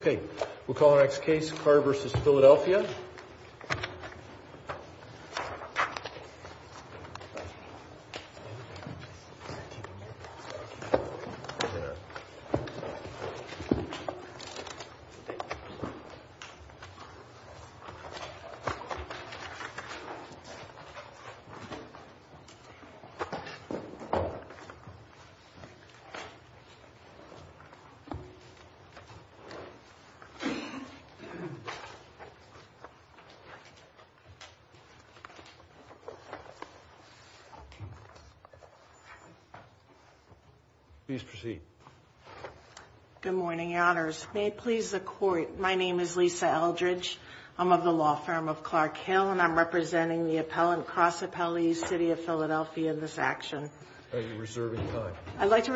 Okay, we'll call our next case, Carter v. Philadelphia. Please proceed. Good morning, Your Honors. May it please the Court, my name is Lisa Eldridge. I'm of the law firm of Clark Hill, and I'm representing the appellant, cross-appellee, City of Philadelphia in this action. Are you reserving time? Do I have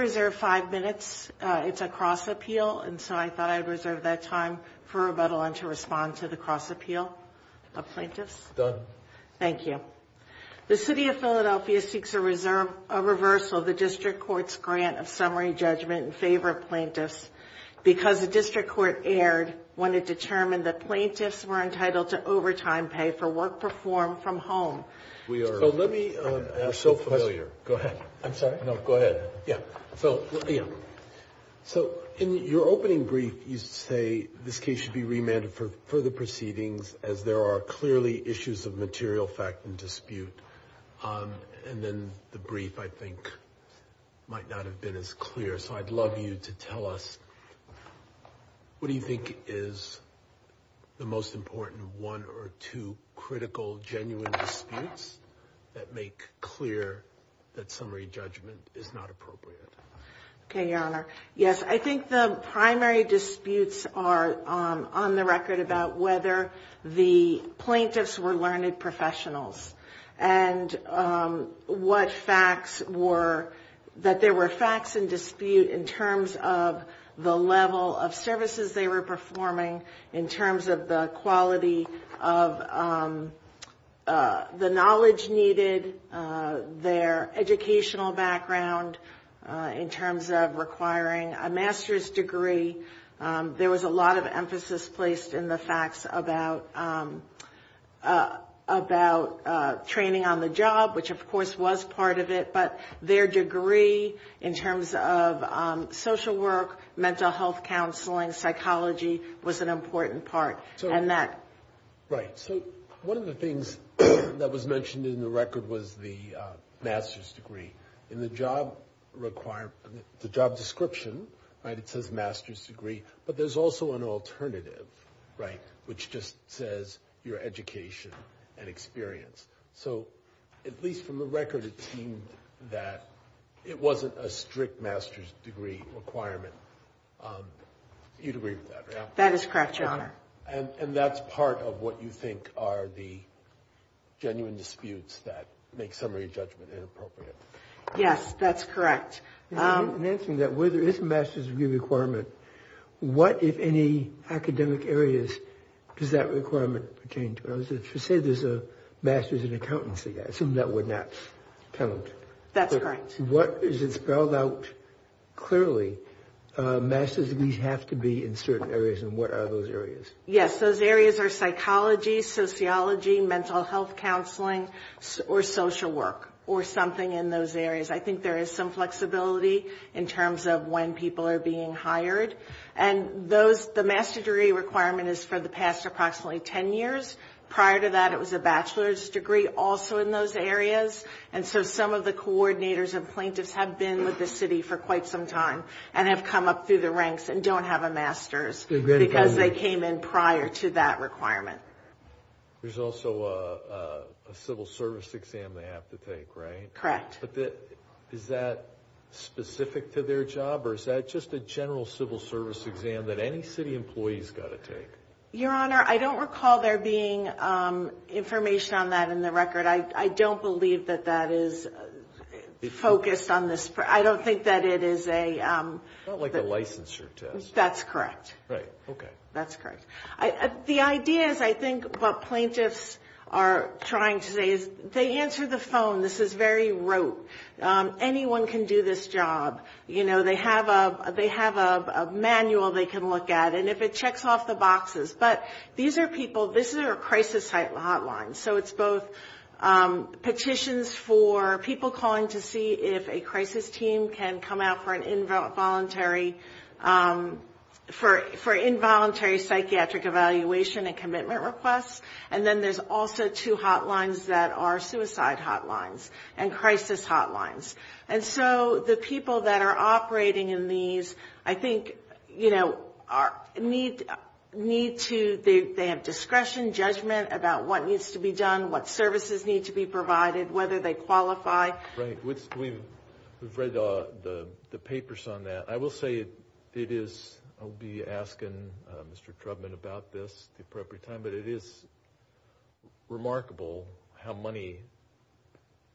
time for rebuttal and to respond to the cross-appeal of plaintiffs? Done. Thank you. The City of Philadelphia seeks a reversal of the District Court's grant of summary judgment in favor of plaintiffs, because the District Court erred when it determined that plaintiffs were entitled to overtime pay for work performed from home. We are so familiar. Go ahead. So, in your opening brief, you say this case should be remanded for further proceedings, as there are clearly issues of material fact and dispute. And then the brief, I think, might not have been as clear. So I'd love you to tell us, what do you think is the most important one or two critical, genuine disputes that make clear that this case should be remanded? I think the primary disputes are on the record about whether the plaintiffs were learned professionals and what facts were, that there were facts in dispute in terms of the level of services they were performing, in terms of the quality of the knowledge needed there. In terms of their educational background, in terms of requiring a master's degree, there was a lot of emphasis placed in the facts about training on the job, which of course was part of it. But their degree in terms of social work, mental health counseling, psychology, was an important part. So one of the things that was mentioned in the record was the master's degree. In the job description, it says master's degree. But there's also an alternative, which just says your education and experience. So at least from the record, it seemed that it wasn't a strict master's degree requirement. You'd agree with that, right? That is correct, Your Honor. And that's part of what you think are the genuine disputes that make summary judgment inappropriate. Yes, that's correct. In answering that, where there is a master's degree requirement, what, if any, academic areas does that requirement pertain to? If you say there's a master's in accountancy, I assume that would not count. That's correct. What is it spelled out clearly? Master's degrees have to be in certain areas, and what are those areas? Yes, those areas are psychology, sociology, mental health counseling, or social work, or something in those areas. I think there is some flexibility in terms of when people are being hired. And the master's degree requirement is for the past approximately 10 years. Prior to that, it was a bachelor's degree also in those areas. And so some of the coordinators and plaintiffs have been with the city for quite some time and have come up through the ranks and don't have a master's because they came in prior to that requirement. There's also a civil service exam they have to take, right? Correct. But is that specific to their job, or is that just a general civil service exam that any city employee's got to take? Your Honor, I don't recall there being information on that in the record. I don't believe that that is focused on this. I don't think that it is a... That's correct. The idea is I think what plaintiffs are trying to say is they answer the phone, this is very rote, anyone can do this job. You know, they have a manual they can look at, and if it checks off the boxes. But these are people, this is a crisis hotline, so it's both petitions for people calling to see if a crisis team can come out for an involuntary psychiatric evaluation and commitment request, and then there's also two hotlines that are suicide hotlines and crisis hotlines. And so the people that are operating in these, I think, you know, need to... They have discretion, judgment about what needs to be done, what services need to be provided, whether they qualify. Right. We've read the papers on that. I will say it is, I'll be asking Mr. Trubman about this at the appropriate time, but it is remarkable how money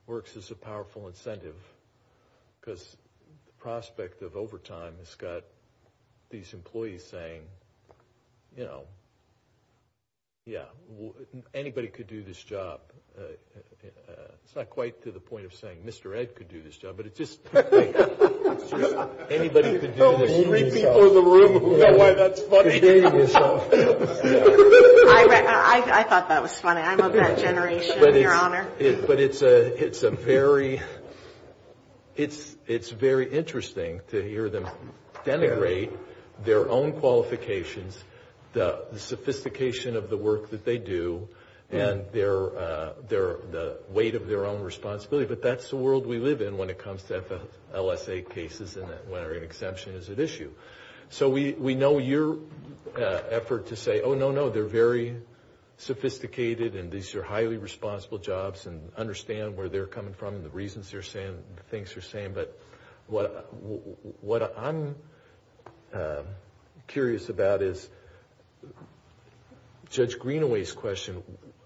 works as a powerful incentive. Because the prospect of overtime has got these employees saying, you know, yeah, anybody could do this job. It's not quite to the point of saying Mr. Ed could do this job, but it's just... Anybody could do this job. I thought that was funny. I'm of that generation, Your Honor. But it's a very interesting to hear them denigrate their own qualifications, the sophistication of the work that they do, and their weight of their own responsibility. But that's the world we live in when it comes to LSA cases and when an exemption is at issue. So we know your effort to say, oh, no, no, they're very sophisticated, and these are highly responsible jobs, and understand where they're coming from and the reasons they're saying the things they're saying. But what I'm curious about is Judge Greenaway's question.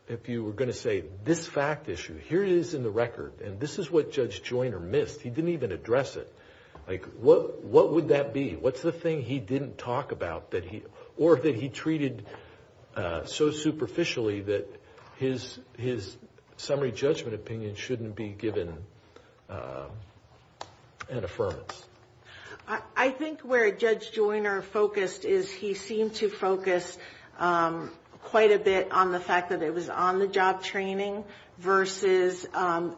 If you were going to say this fact issue, here it is in the record, and this is what Judge Joyner missed. He didn't even address it. What would that be? What's the thing he didn't talk about or that he treated so superficially that his summary judgment opinion shouldn't be given an affirmance? I think where Judge Joyner focused is he seemed to focus quite a bit on the fact that it was on-the-job training versus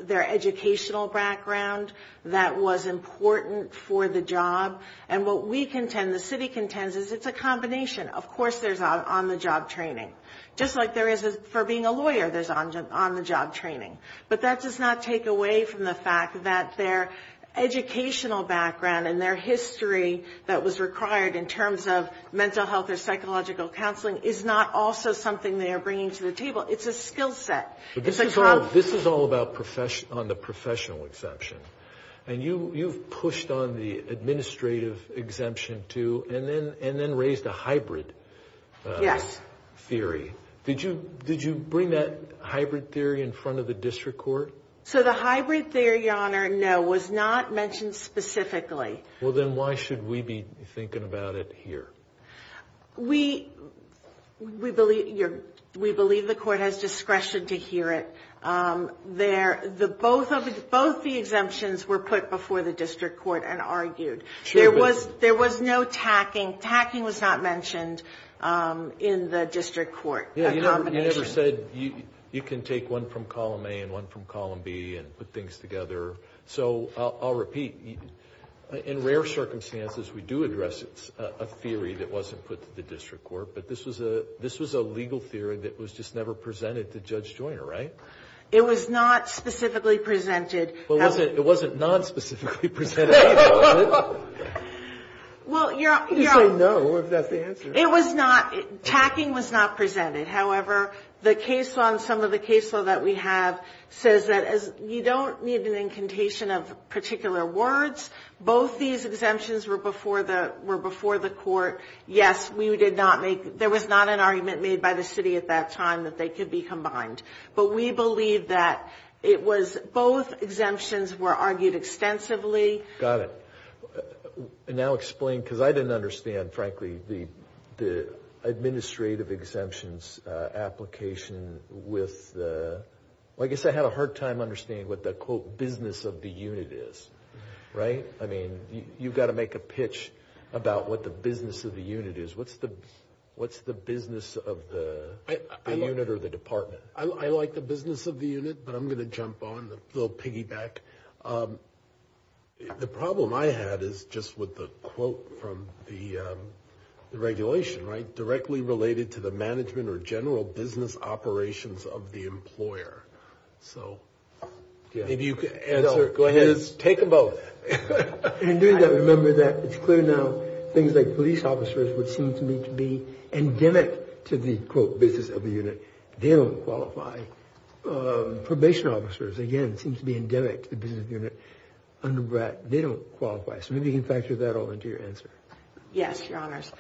their educational background that was important for the job. And what we contend, the city contends, is it's a combination. Of course there's on-the-job training. Just like there is for being a lawyer, there's on-the-job training. But that does not take away from the fact that their educational background and their history that was required in terms of mental health or psychological counseling is not also something they are bringing to the table. It's a skill set. This is all about on the professional exemption. And you've pushed on the administrative exemption, too, and then raised a hybrid theory. Did you bring that hybrid theory in front of the district court? So the hybrid theory, Your Honor, no, was not mentioned specifically. Well, then why should we be thinking about it here? We believe the court has discretion to hear it. Both the exemptions were put before the district court and argued. There was no tacking. Tacking was not mentioned in the district court. You never said you can take one from column A and one from column B and put things together. So I'll repeat. In rare circumstances, we do address a theory that wasn't put to the district court. But this was a legal theory that was just never presented to Judge Joyner, right? It was not specifically presented. Well, Your Honor, it was not tacking was not presented. However, the case on some of the cases that we have says that you don't need an incantation of particular words. Both these exemptions were before the court. Yes, we did not make there was not an argument made by the city at that time that they could be combined. But we believe that it was both exemptions were argued extensively. Now explain, because I didn't understand, frankly, the administrative exemptions application with, I guess I had a hard time understanding what the business of the unit is, right? I mean, you've got to make a pitch about what the business of the unit is. What's the what's the business of the unit or the department? I like the business of the unit, but I'm going to jump on the little piggyback. The problem I had is just with the quote from the regulation, right? Directly related to the management or general business operations of the employer. So maybe you could answer. Go ahead. Take them both. Remember that it's clear now things like police officers would seem to me to be endemic to the quote business of the unit. They don't qualify. Probation officers, again, seem to be endemic to the business of the unit. They don't qualify. So maybe you can factor that all into your answer. Yes, your honors.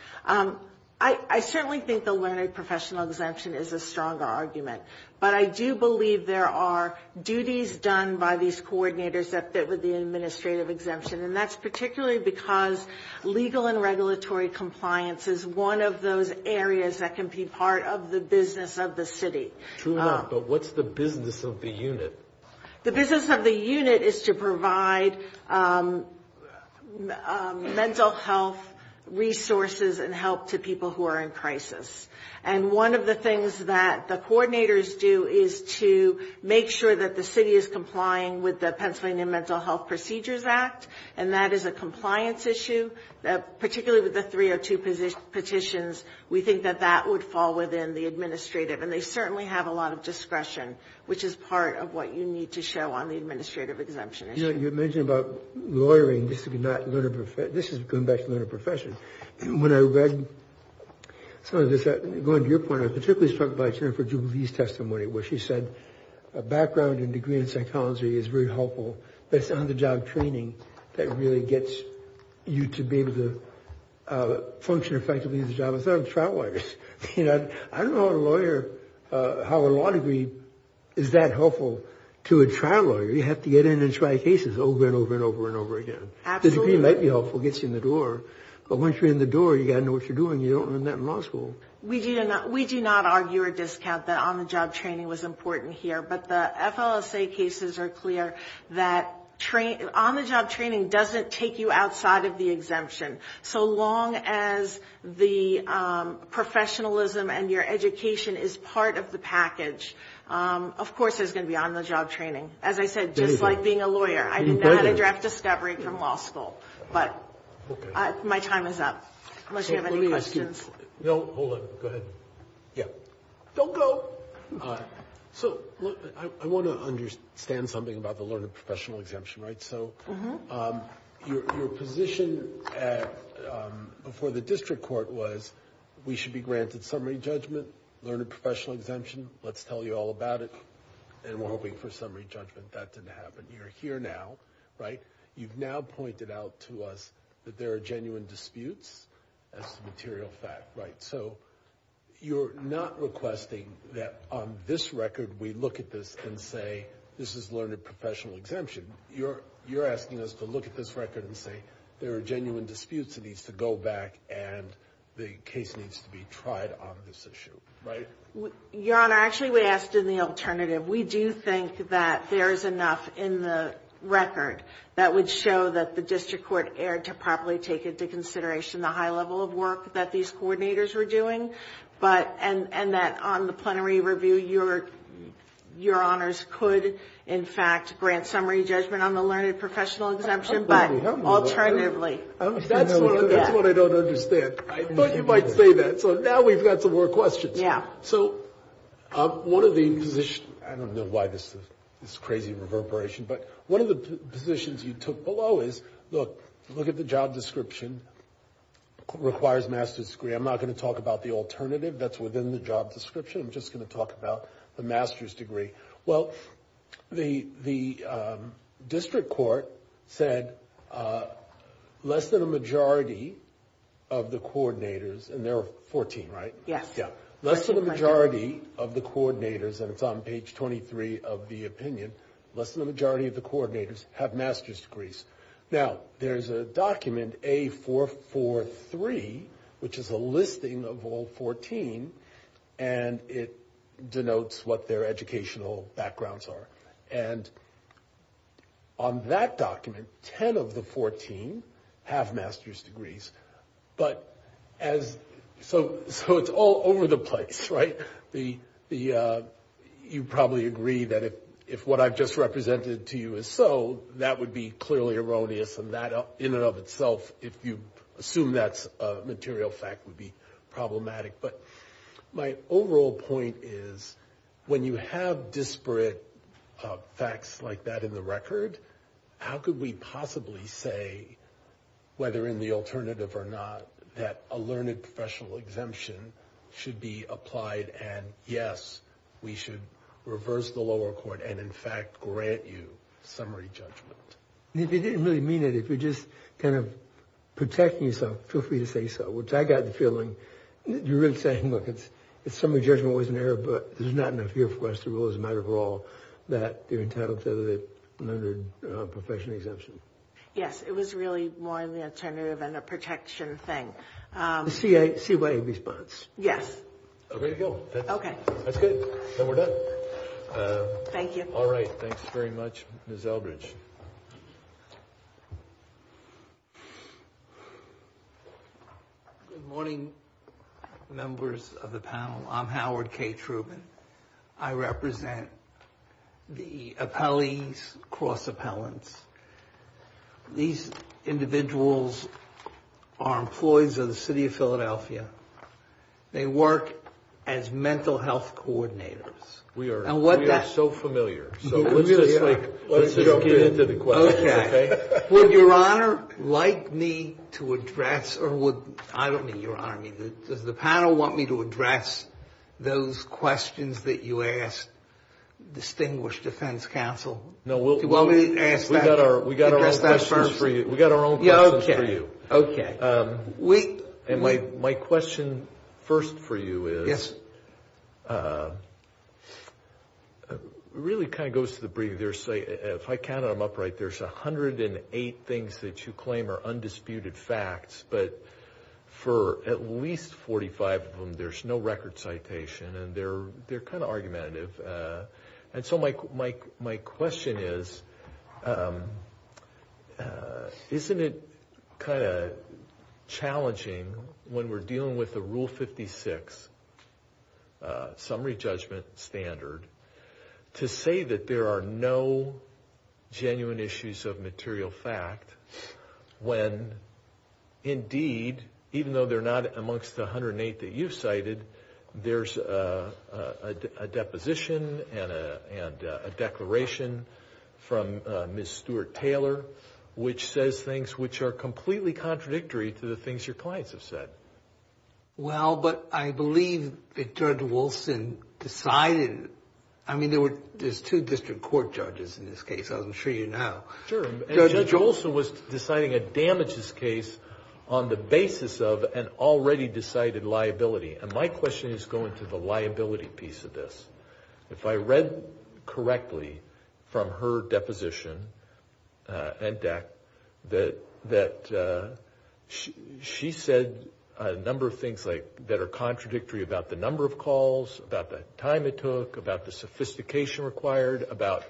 I certainly think the learned professional exemption is a stronger argument. But I do believe there are duties done by these coordinators that fit with the administrative exemption. And that's particularly because legal and regulatory compliance is one of those areas that can be part of the business of the city. But what's the business of the unit? The business of the unit is to provide mental health resources and help to people who are in crisis. And one of the things that the coordinators do is to make sure that the city is complying with the Pennsylvania Mental Health Procedures Act. And that is a compliance issue, particularly with the 302 petitions. We think that that would fall within the administrative. And they certainly have a lot of discretion, which is part of what you need to show on the administrative exemption issue. You mentioned about lawyering. This is going back to learned professions. When I read some of this, going to your point, I was particularly struck by Jennifer Jubilee's testimony where she said a background and degree in psychology is very helpful. But it's on-the-job training that really gets you to be able to function effectively in the job. I thought of trial lawyers. I don't know how a law degree is that helpful to a trial lawyer. You have to get in and try cases over and over and over and over again. The degree might be helpful, gets you in the door. But once you're in the door, you got to know what you're doing. You don't learn that in law school. We do not argue or discount that on-the-job training was important here. But the FLSA cases are clear that on-the-job training doesn't take you outside of the exemption. So long as the professionalism and your education is part of the package. Of course there's going to be on-the-job training. As I said, just like being a lawyer. I didn't have a direct discovery from law school, but my time is up. Unless you have any questions. I want to understand something about the learned professional exemption. Your position before the district court was we should be granted summary judgment, learned professional exemption. Let's tell you all about it, and we're hoping for summary judgment. That didn't happen. You're here now. You've now pointed out to us that there are genuine disputes as a material fact. You're not requesting that on this record we look at this and say this is learned professional exemption. You're asking us to look at this record and say there are genuine disputes. It needs to go back and the case needs to be tried on this issue. Your Honor, actually we asked in the alternative. We do think that there's enough in the record that would show that the district court erred to properly take into consideration the high level of work that these coordinators were doing. And that on the plenary review your honors could in fact grant summary judgment on the learned professional exemption. That's what I don't understand. I thought you might say that, so now we've got some more questions. I don't know why this is crazy reverberation, but one of the positions you took below is look, look at the job description, requires master's degree. I'm not going to talk about the alternative that's within the job description. I'm just going to talk about the master's degree. Well, the district court said less than a majority of the coordinators, and there are 14, right? Yes. Less than a majority of the coordinators, and it's on page 23 of the opinion, less than a majority of the coordinators have master's degrees. Now, there's a document, A443, which is a listing of all 14, and it denotes what their educational backgrounds are. And on that document, 10 of the 14 have master's degrees. But as, so it's all over the place, right? You probably agree that if what I've just represented to you is so, that would be clearly erroneous, and that in and of itself, if you assume that's a material fact, would be problematic. But my overall point is, when you have disparate facts like that in the record, how could we possibly say, whether in the alternative or not, that a learned professional exemption should be applied, and yes, we should reverse the lower court and, in fact, grant you summary judgment? If you didn't really mean it, if you're just kind of protecting yourself, feel free to say so, which I got the feeling, you're really saying, look, it's summary judgment wasn't there, but there's not enough here for us to rule as a matter of law that you're entitled to the learned professional exemption. Yes, it was really more in the alternative and a protection thing. The CYA response. Yes. Okay. That's good. Then we're done. Thank you. All right. Thanks very much, Ms. Eldridge. Good morning, members of the panel. I'm Howard K. Trubin. I represent the appellees, cross-appellants. They work as mental health coordinators. We are so familiar, so let's just get into the questions, okay? Would Your Honor like me to address, or would, I don't mean Your Honor, does the panel want me to address those questions that you asked distinguished defense counsel? We got our own questions for you. Okay. And my question first for you is, it really kind of goes to the brief. If I count them up right, there's 108 things that you claim are undisputed facts, but for at least 45 of them, there's no record citation, and they're kind of argumentative. And so my question is, isn't it kind of, you know, challenging when we're dealing with the Rule 56 summary judgment standard to say that there are no genuine issues of material fact, when indeed, even though they're not amongst the 108 that you've cited, there's a deposition and a declaration from Ms. Stuart Taylor, which says things which are completely contradictory to the things your clients have said. Well, but I believe that Judge Wilson decided, I mean, there's two district court judges in this case, I'm sure you know. Sure, and Judge Wilson was deciding a damages case on the basis of an already decided liability. And my question is going to the liability piece of this. If I read correctly from her deposition and deck, that she said a number of things that are contradictory about the number of calls, about the time it took, about the sophistication required, about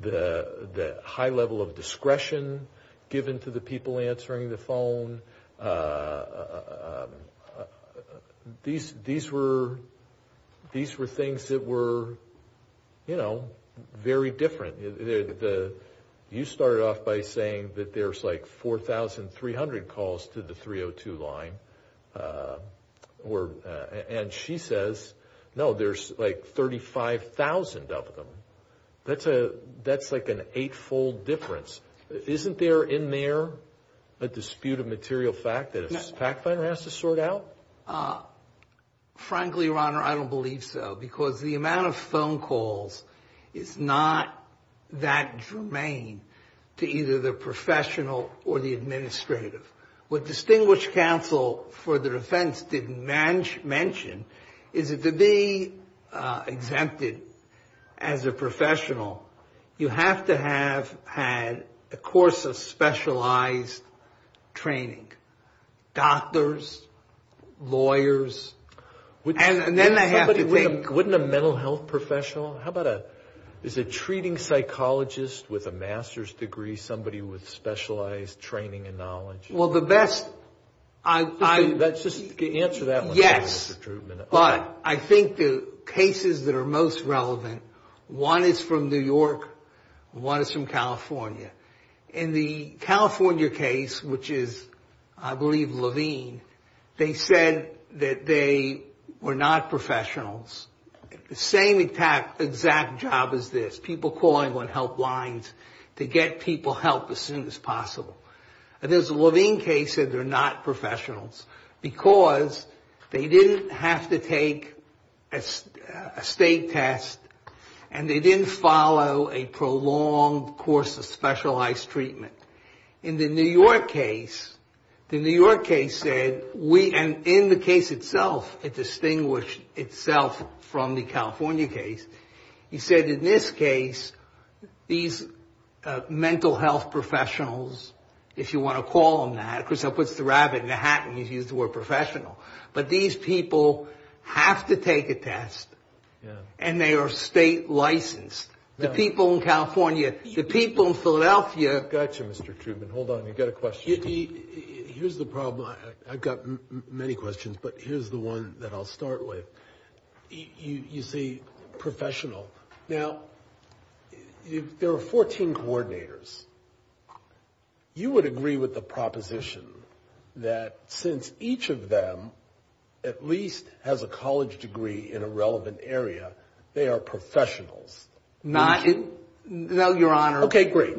the high level of discretion given to the people answering the phone. These were things that were, you know, very different. You started off by saying that there's like 4,300 calls to the 302 line. And she says, no, there's like 35,000 of them. That's like an eightfold difference. Isn't there in there a dispute of material fact that a fact finder has to sort out? Frankly, Your Honor, I don't believe so. Because the amount of phone calls is not that germane to either the professional or the administrative. What distinguished counsel for the defense didn't mention, is that to be exempted as a professional, you have to have had a course of specialized training. Doctors, lawyers, and then they have to take... Wouldn't a mental health professional? How about a, is a treating psychologist with a master's degree somebody with specialized training and knowledge? Well, the best... Yes. But I think the cases that are most relevant, one is from New York, one is from California. In the California case, which is I believe Levine, they said that they were not professionals. The same exact job as this, people calling on helplines to get people help as soon as possible. And this Levine case said they're not professionals, because they didn't have to take a state test, and they didn't follow a prolonged course of specialized treatment. In the New York case, the New York case said, and in the case itself it distinguished itself from the California case, he said in this case, these mental health professionals, if you want to call them that, of course that puts the rabbit in the hat, and he's used the word professional. But these people have to take a test, and they are state licensed. The people in California, the people in Philadelphia... Gotcha, Mr. Truman. Hold on, I've got a question. Here's the problem, I've got many questions, but here's the one that I'll start with. You say professional. Now, if there are 14 coordinators, you would agree with the proposition that since each of them at least has a college degree in a relevant area, they are professionals. No, Your Honor. Okay, great.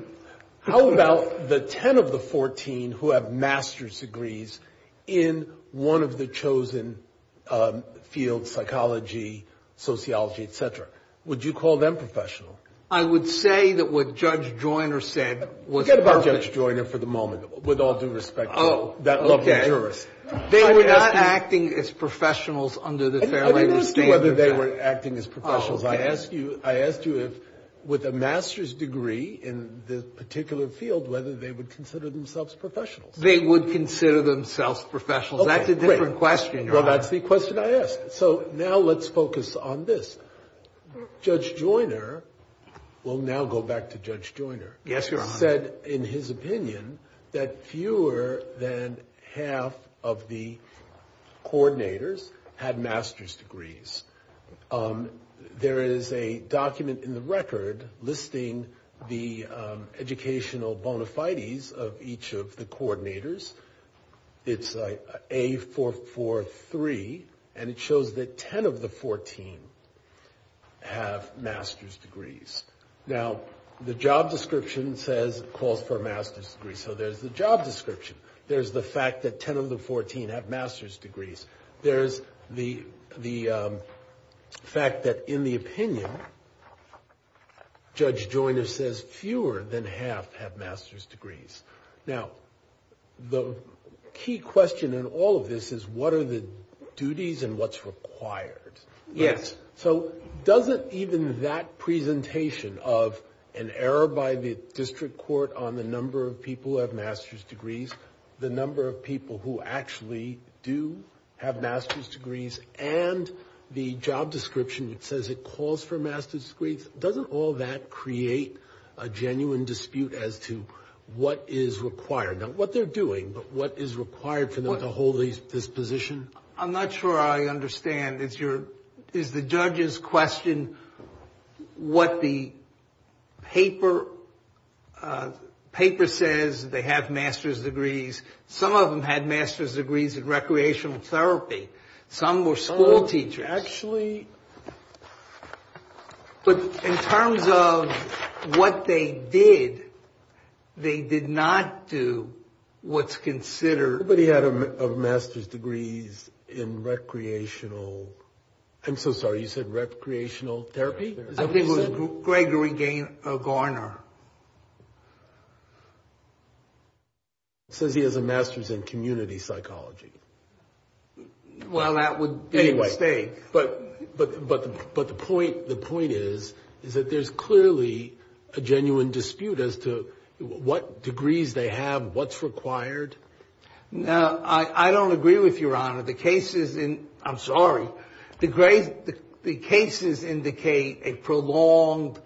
How about the 10 of the 14 who have master's degrees in one of the chosen fields, psychology, sociology, etc.? Would you call them professional? I would say that what Judge Joyner said was perfect. Forget about Judge Joyner for the moment, with all due respect to that lovely jurist. I asked you if with a master's degree in the particular field, whether they would consider themselves professionals. They would consider themselves professionals. That's a different question, Your Honor. Well, that's the question I asked. So now let's focus on this. Judge Joyner, we'll now go back to Judge Joyner, said in his opinion that fewer than half of the coordinators had master's degrees. There is a document in the record listing the educational bona fides of each of the coordinators. It's A443, and it shows that 10 of the 14 have master's degrees. Now, the job description calls for a master's degree, so there's the job description. There's the fact that 10 of the 14 have master's degrees. There's the fact that, in the opinion, Judge Joyner says fewer than half have master's degrees. Now, the key question in all of this is what are the duties and what's required? Yes. So doesn't even that presentation of an error by the district court on the number of people who have master's degrees, the number of people who actually do have master's degrees, and the number of people who do have master's degrees? The job description, it says it calls for master's degrees. Doesn't all that create a genuine dispute as to what is required? Not what they're doing, but what is required for them to hold this position? I'm not sure I understand. Is the judge's question what the paper says they have master's degrees? Some of them had master's degrees in recreational therapy. Some were school teachers. But in terms of what they did, they did not do what's considered... Nobody had a master's degree in recreational, I'm so sorry, you said recreational therapy? I think it was Gregory Garner. He has a master's in community psychology. But the point is that there's clearly a genuine dispute as to what degrees they have, what's required. I don't agree with you, Your Honor. The cases indicate a prolonged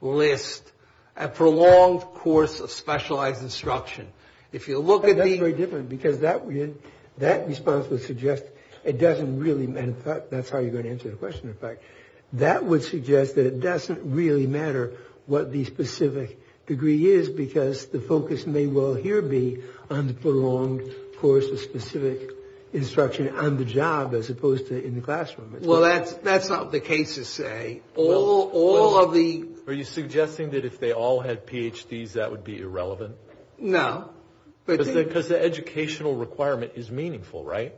list, a prolonged course of specialized instruction. That's very different, because that response would suggest it doesn't really matter. That's how you're going to answer the question, in fact. That would suggest that it doesn't really matter what the specific degree is, because the focus may well here be on the prolonged course of specific instruction on the job, as opposed to in the classroom. Well, that's not what the cases say. Are you suggesting that if they all had PhDs, that would be irrelevant? No. Because the educational requirement is meaningful, right?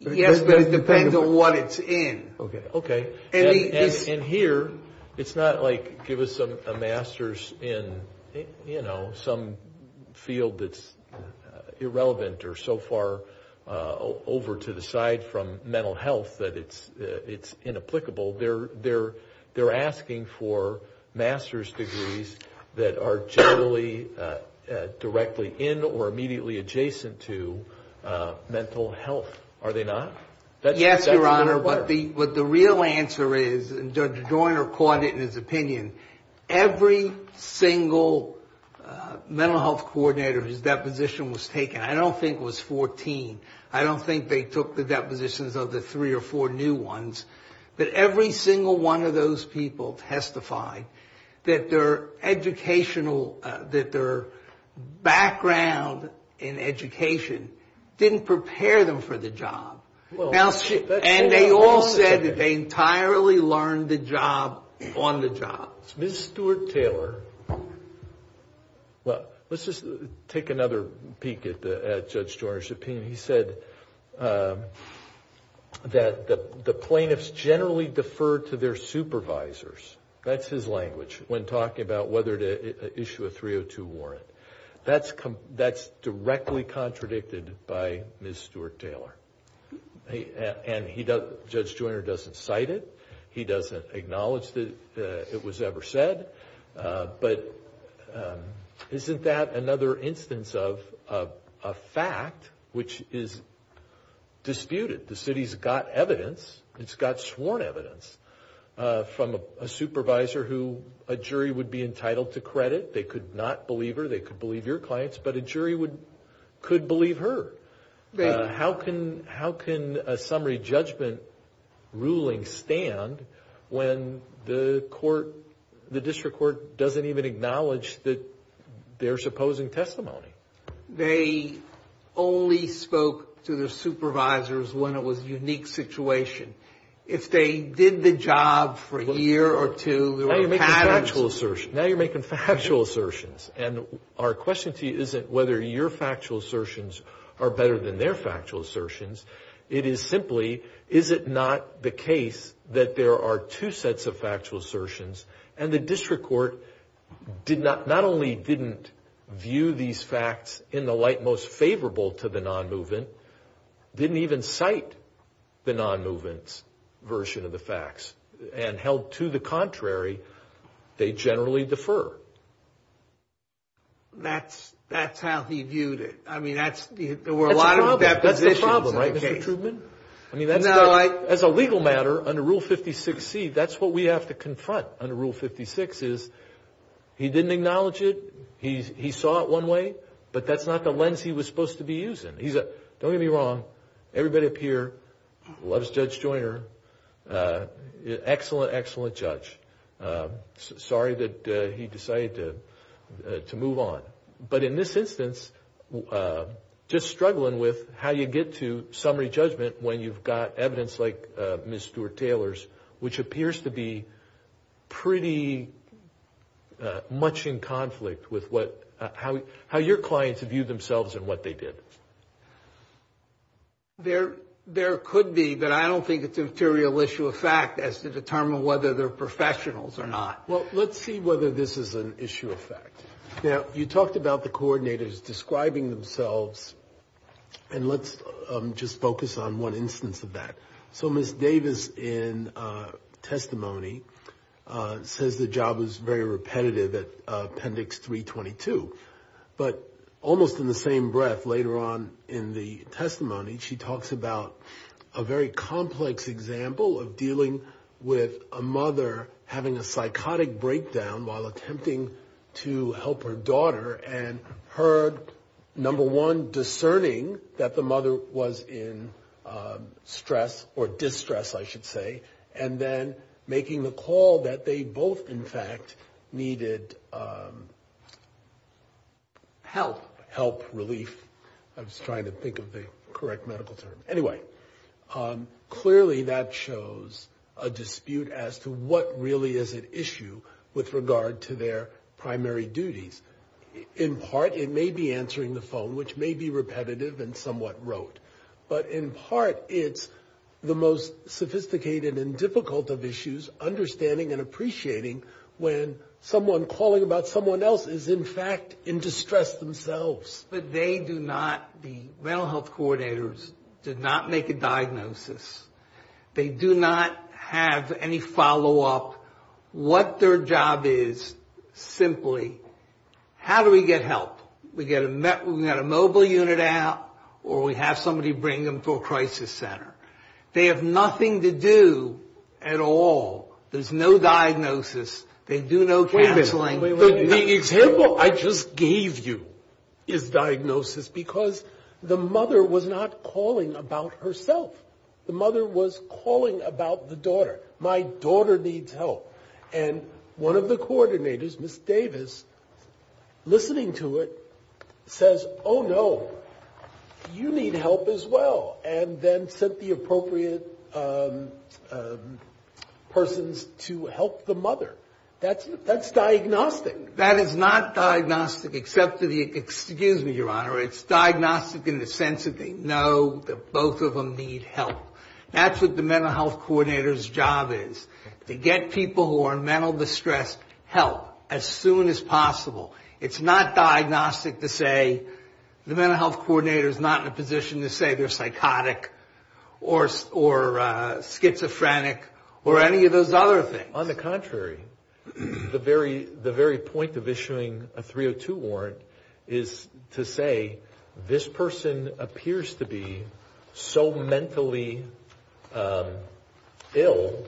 Yes, but it depends on what it's in. Okay. And here, it's not like give us a master's in some field that's irrelevant or so far over to the side from mental health that it's inapplicable. They're asking for master's degrees that are generally directly in or immediately adjacent to mental health, are they not? Yes, Your Honor, but the real answer is, and Judge Joyner caught it in his opinion, every single mental health coordinator whose deposition was taken, I don't think it was 14, I don't think they took the depositions of the three or four new ones, but every single one of those people testified that their educational, that their background in education didn't prepare them for the job. And they all said that they entirely learned the job on the job. Ms. Stewart-Taylor, well, let's just take another peek at Judge Joyner's opinion. He said that the plaintiffs generally defer to their supervisors. That's his language when talking about whether to issue a 302 warrant. That's directly contradicted by Ms. Stewart-Taylor. And Judge Joyner doesn't cite it. He doesn't acknowledge that it was ever said. But isn't that another instance of a fact which is disputed? The city's got evidence, it's got sworn evidence, from a supervisor who a jury would be entitled to credit. They could not believe her, they could believe your clients, but a jury could believe her. How can a summary judgment ruling stand when the court, the district court doesn't even acknowledge their supposing testimony? They only spoke to their supervisors when it was a unique situation. If they did the job for a year or two, there were patterns. Now you're making factual assertions. And our question to you isn't whether your factual assertions are better than their factual assertions. It is simply, is it not the case that there are two sets of factual assertions, and the district court not only didn't view these facts in the light most favorable to the non-movement, didn't even cite the non-movement's version of the facts, and held to the contrary, they generally defer? That's how he viewed it. That's the problem, right, Mr. Trubman? As a legal matter, under Rule 56C, that's what we have to confront under Rule 56, is he didn't acknowledge it, he saw it one way, but that's not the lens he was supposed to be using. Don't get me wrong, everybody up here loves Judge Joyner, excellent, excellent judge. Sorry that he decided to move on. But in this instance, just struggling with how you get to summary judgment when you've got evidence like Ms. Stewart-Taylor's, which appears to be pretty much in conflict with how your clients view themselves and what they did. There could be, but I don't think it's a material issue of fact as to determine whether they're professionals or not. Well, let's see whether this is an issue of fact. Now, you talked about the coordinators describing themselves, and let's just focus on one instance of that. So Ms. Davis in testimony says the job is very repetitive at Appendix 322, but almost in the same breath later on in the testimony, she talks about a very complex example of dealing with a mother having a psychotic breakdown while attempting to help her daughter, and her, number one, discerning that the mother was in stress or distress, I should say, and then making the call that they both, in fact, needed help, help, relief, I was trying to think of the correct medical term. Anyway, clearly that shows a dispute as to what really is at issue with regard to their primary duties. In part it may be answering the phone, which may be repetitive and somewhat rote, but in part it's the most sophisticated and difficult of issues, understanding and appreciating when someone calling about someone else is, in fact, in distress themselves. But they do not, the mental health coordinators, do not make a diagnosis. They do not have any follow-up. What their job is, simply, how do we get help? We get a mobile unit out or we have somebody bring them to a crisis center. They have nothing to do at all. There's no diagnosis. They do no canceling. The example I just gave you is diagnosis, because the mother was not calling about herself. The mother was calling about the daughter. My daughter needs help. And one of the coordinators, Ms. Davis, listening to it, says, oh, no, you need help as well, and then sent the appropriate persons to help the mother. That's diagnostic. That is not diagnostic, except for the, excuse me, Your Honor, it's diagnostic in the sense that they know that both of them need help. That's what the mental health coordinator's job is, to get people who are in mental distress help as soon as possible. It's not diagnostic to say, the mental health coordinator's not in a position to say they're psychotic or schizophrenic or any of those other things. On the contrary, the very point of issuing a 302 warrant is to say, this person appears to be so mentally ill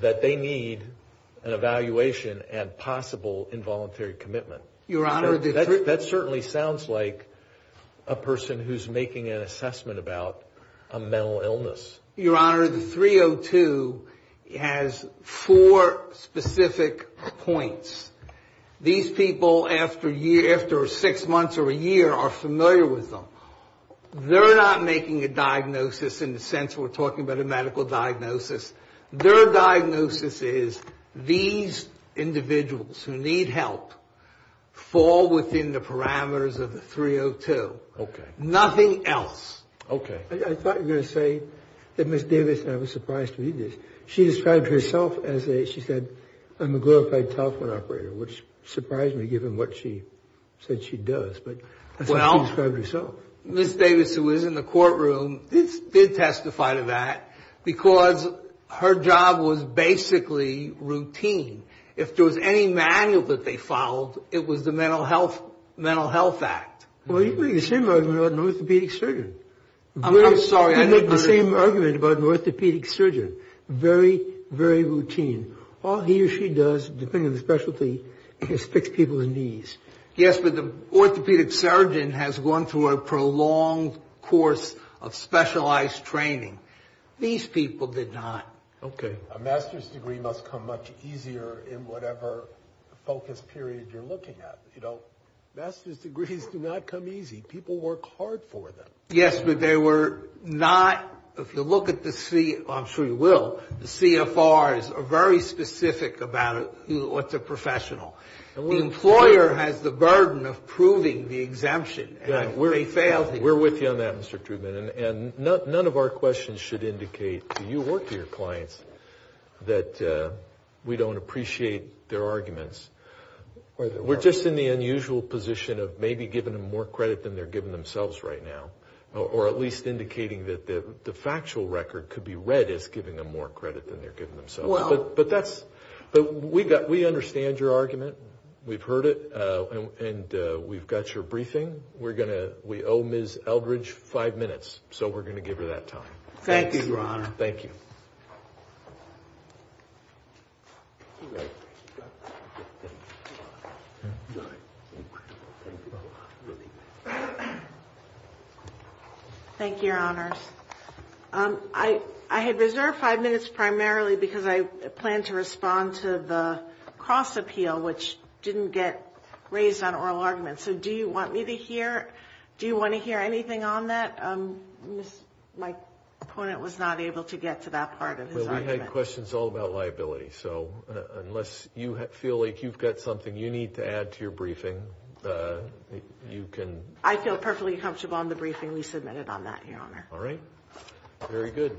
that they need an evaluation and possible involuntary commitment. That certainly sounds like a person who's making an assessment about a mental illness. Your Honor, the 302 has four specific points. These people, after six months or a year, are familiar with them. They're not making a diagnosis in the sense we're talking about a medical diagnosis. Their diagnosis is, these individuals who need help fall within the parameters of the 302. Nothing else. I thought you were going to say that Ms. Davis, and I was surprised to read this, she described herself as a, she said, a magnified telephone operator, which surprised me given what she said she does, but that's what she described herself. Ms. Davis, who is in the courtroom, did testify to that because her job was basically routine. If there was any manual that they followed, it was the Mental Health Act. Well, you make the same argument about an orthopedic surgeon. I'm sorry. You make the same argument about an orthopedic surgeon. Very, very routine. All he or she does, depending on the specialty, is fix people's knees. Yes, but the orthopedic surgeon has gone through a prolonged course of specialized training. These people did not. Okay. A master's degree must come much easier in whatever focus period you're looking at. You know, master's degrees do not come easy. People work hard for them. Yes, but they were not, if you look at the, I'm sure you will, the CFRs are very specific about what's a professional. The employer has the burden of proving the exemption. We're with you on that, Mr. Truman. I'm not saying that we don't appreciate their arguments. We're just in the unusual position of maybe giving them more credit than they're giving themselves right now. Or at least indicating that the factual record could be read as giving them more credit than they're giving themselves. But we understand your argument. We've heard it. And we've got your briefing. We owe Ms. Eldridge five minutes, so we're going to give her that time. Thank you, Your Honor. Thank you, Your Honors. I had reserved five minutes primarily because I planned to respond to the cross-appeal, which didn't get raised on oral arguments. So do you want me to hear, do you want to hear anything on that? The opponent was not able to get to that part of his argument. Well, we had questions all about liability, so unless you feel like you've got something you need to add to your briefing, you can. I feel perfectly comfortable on the briefing we submitted on that, Your Honor. All right. Very good. Thank you.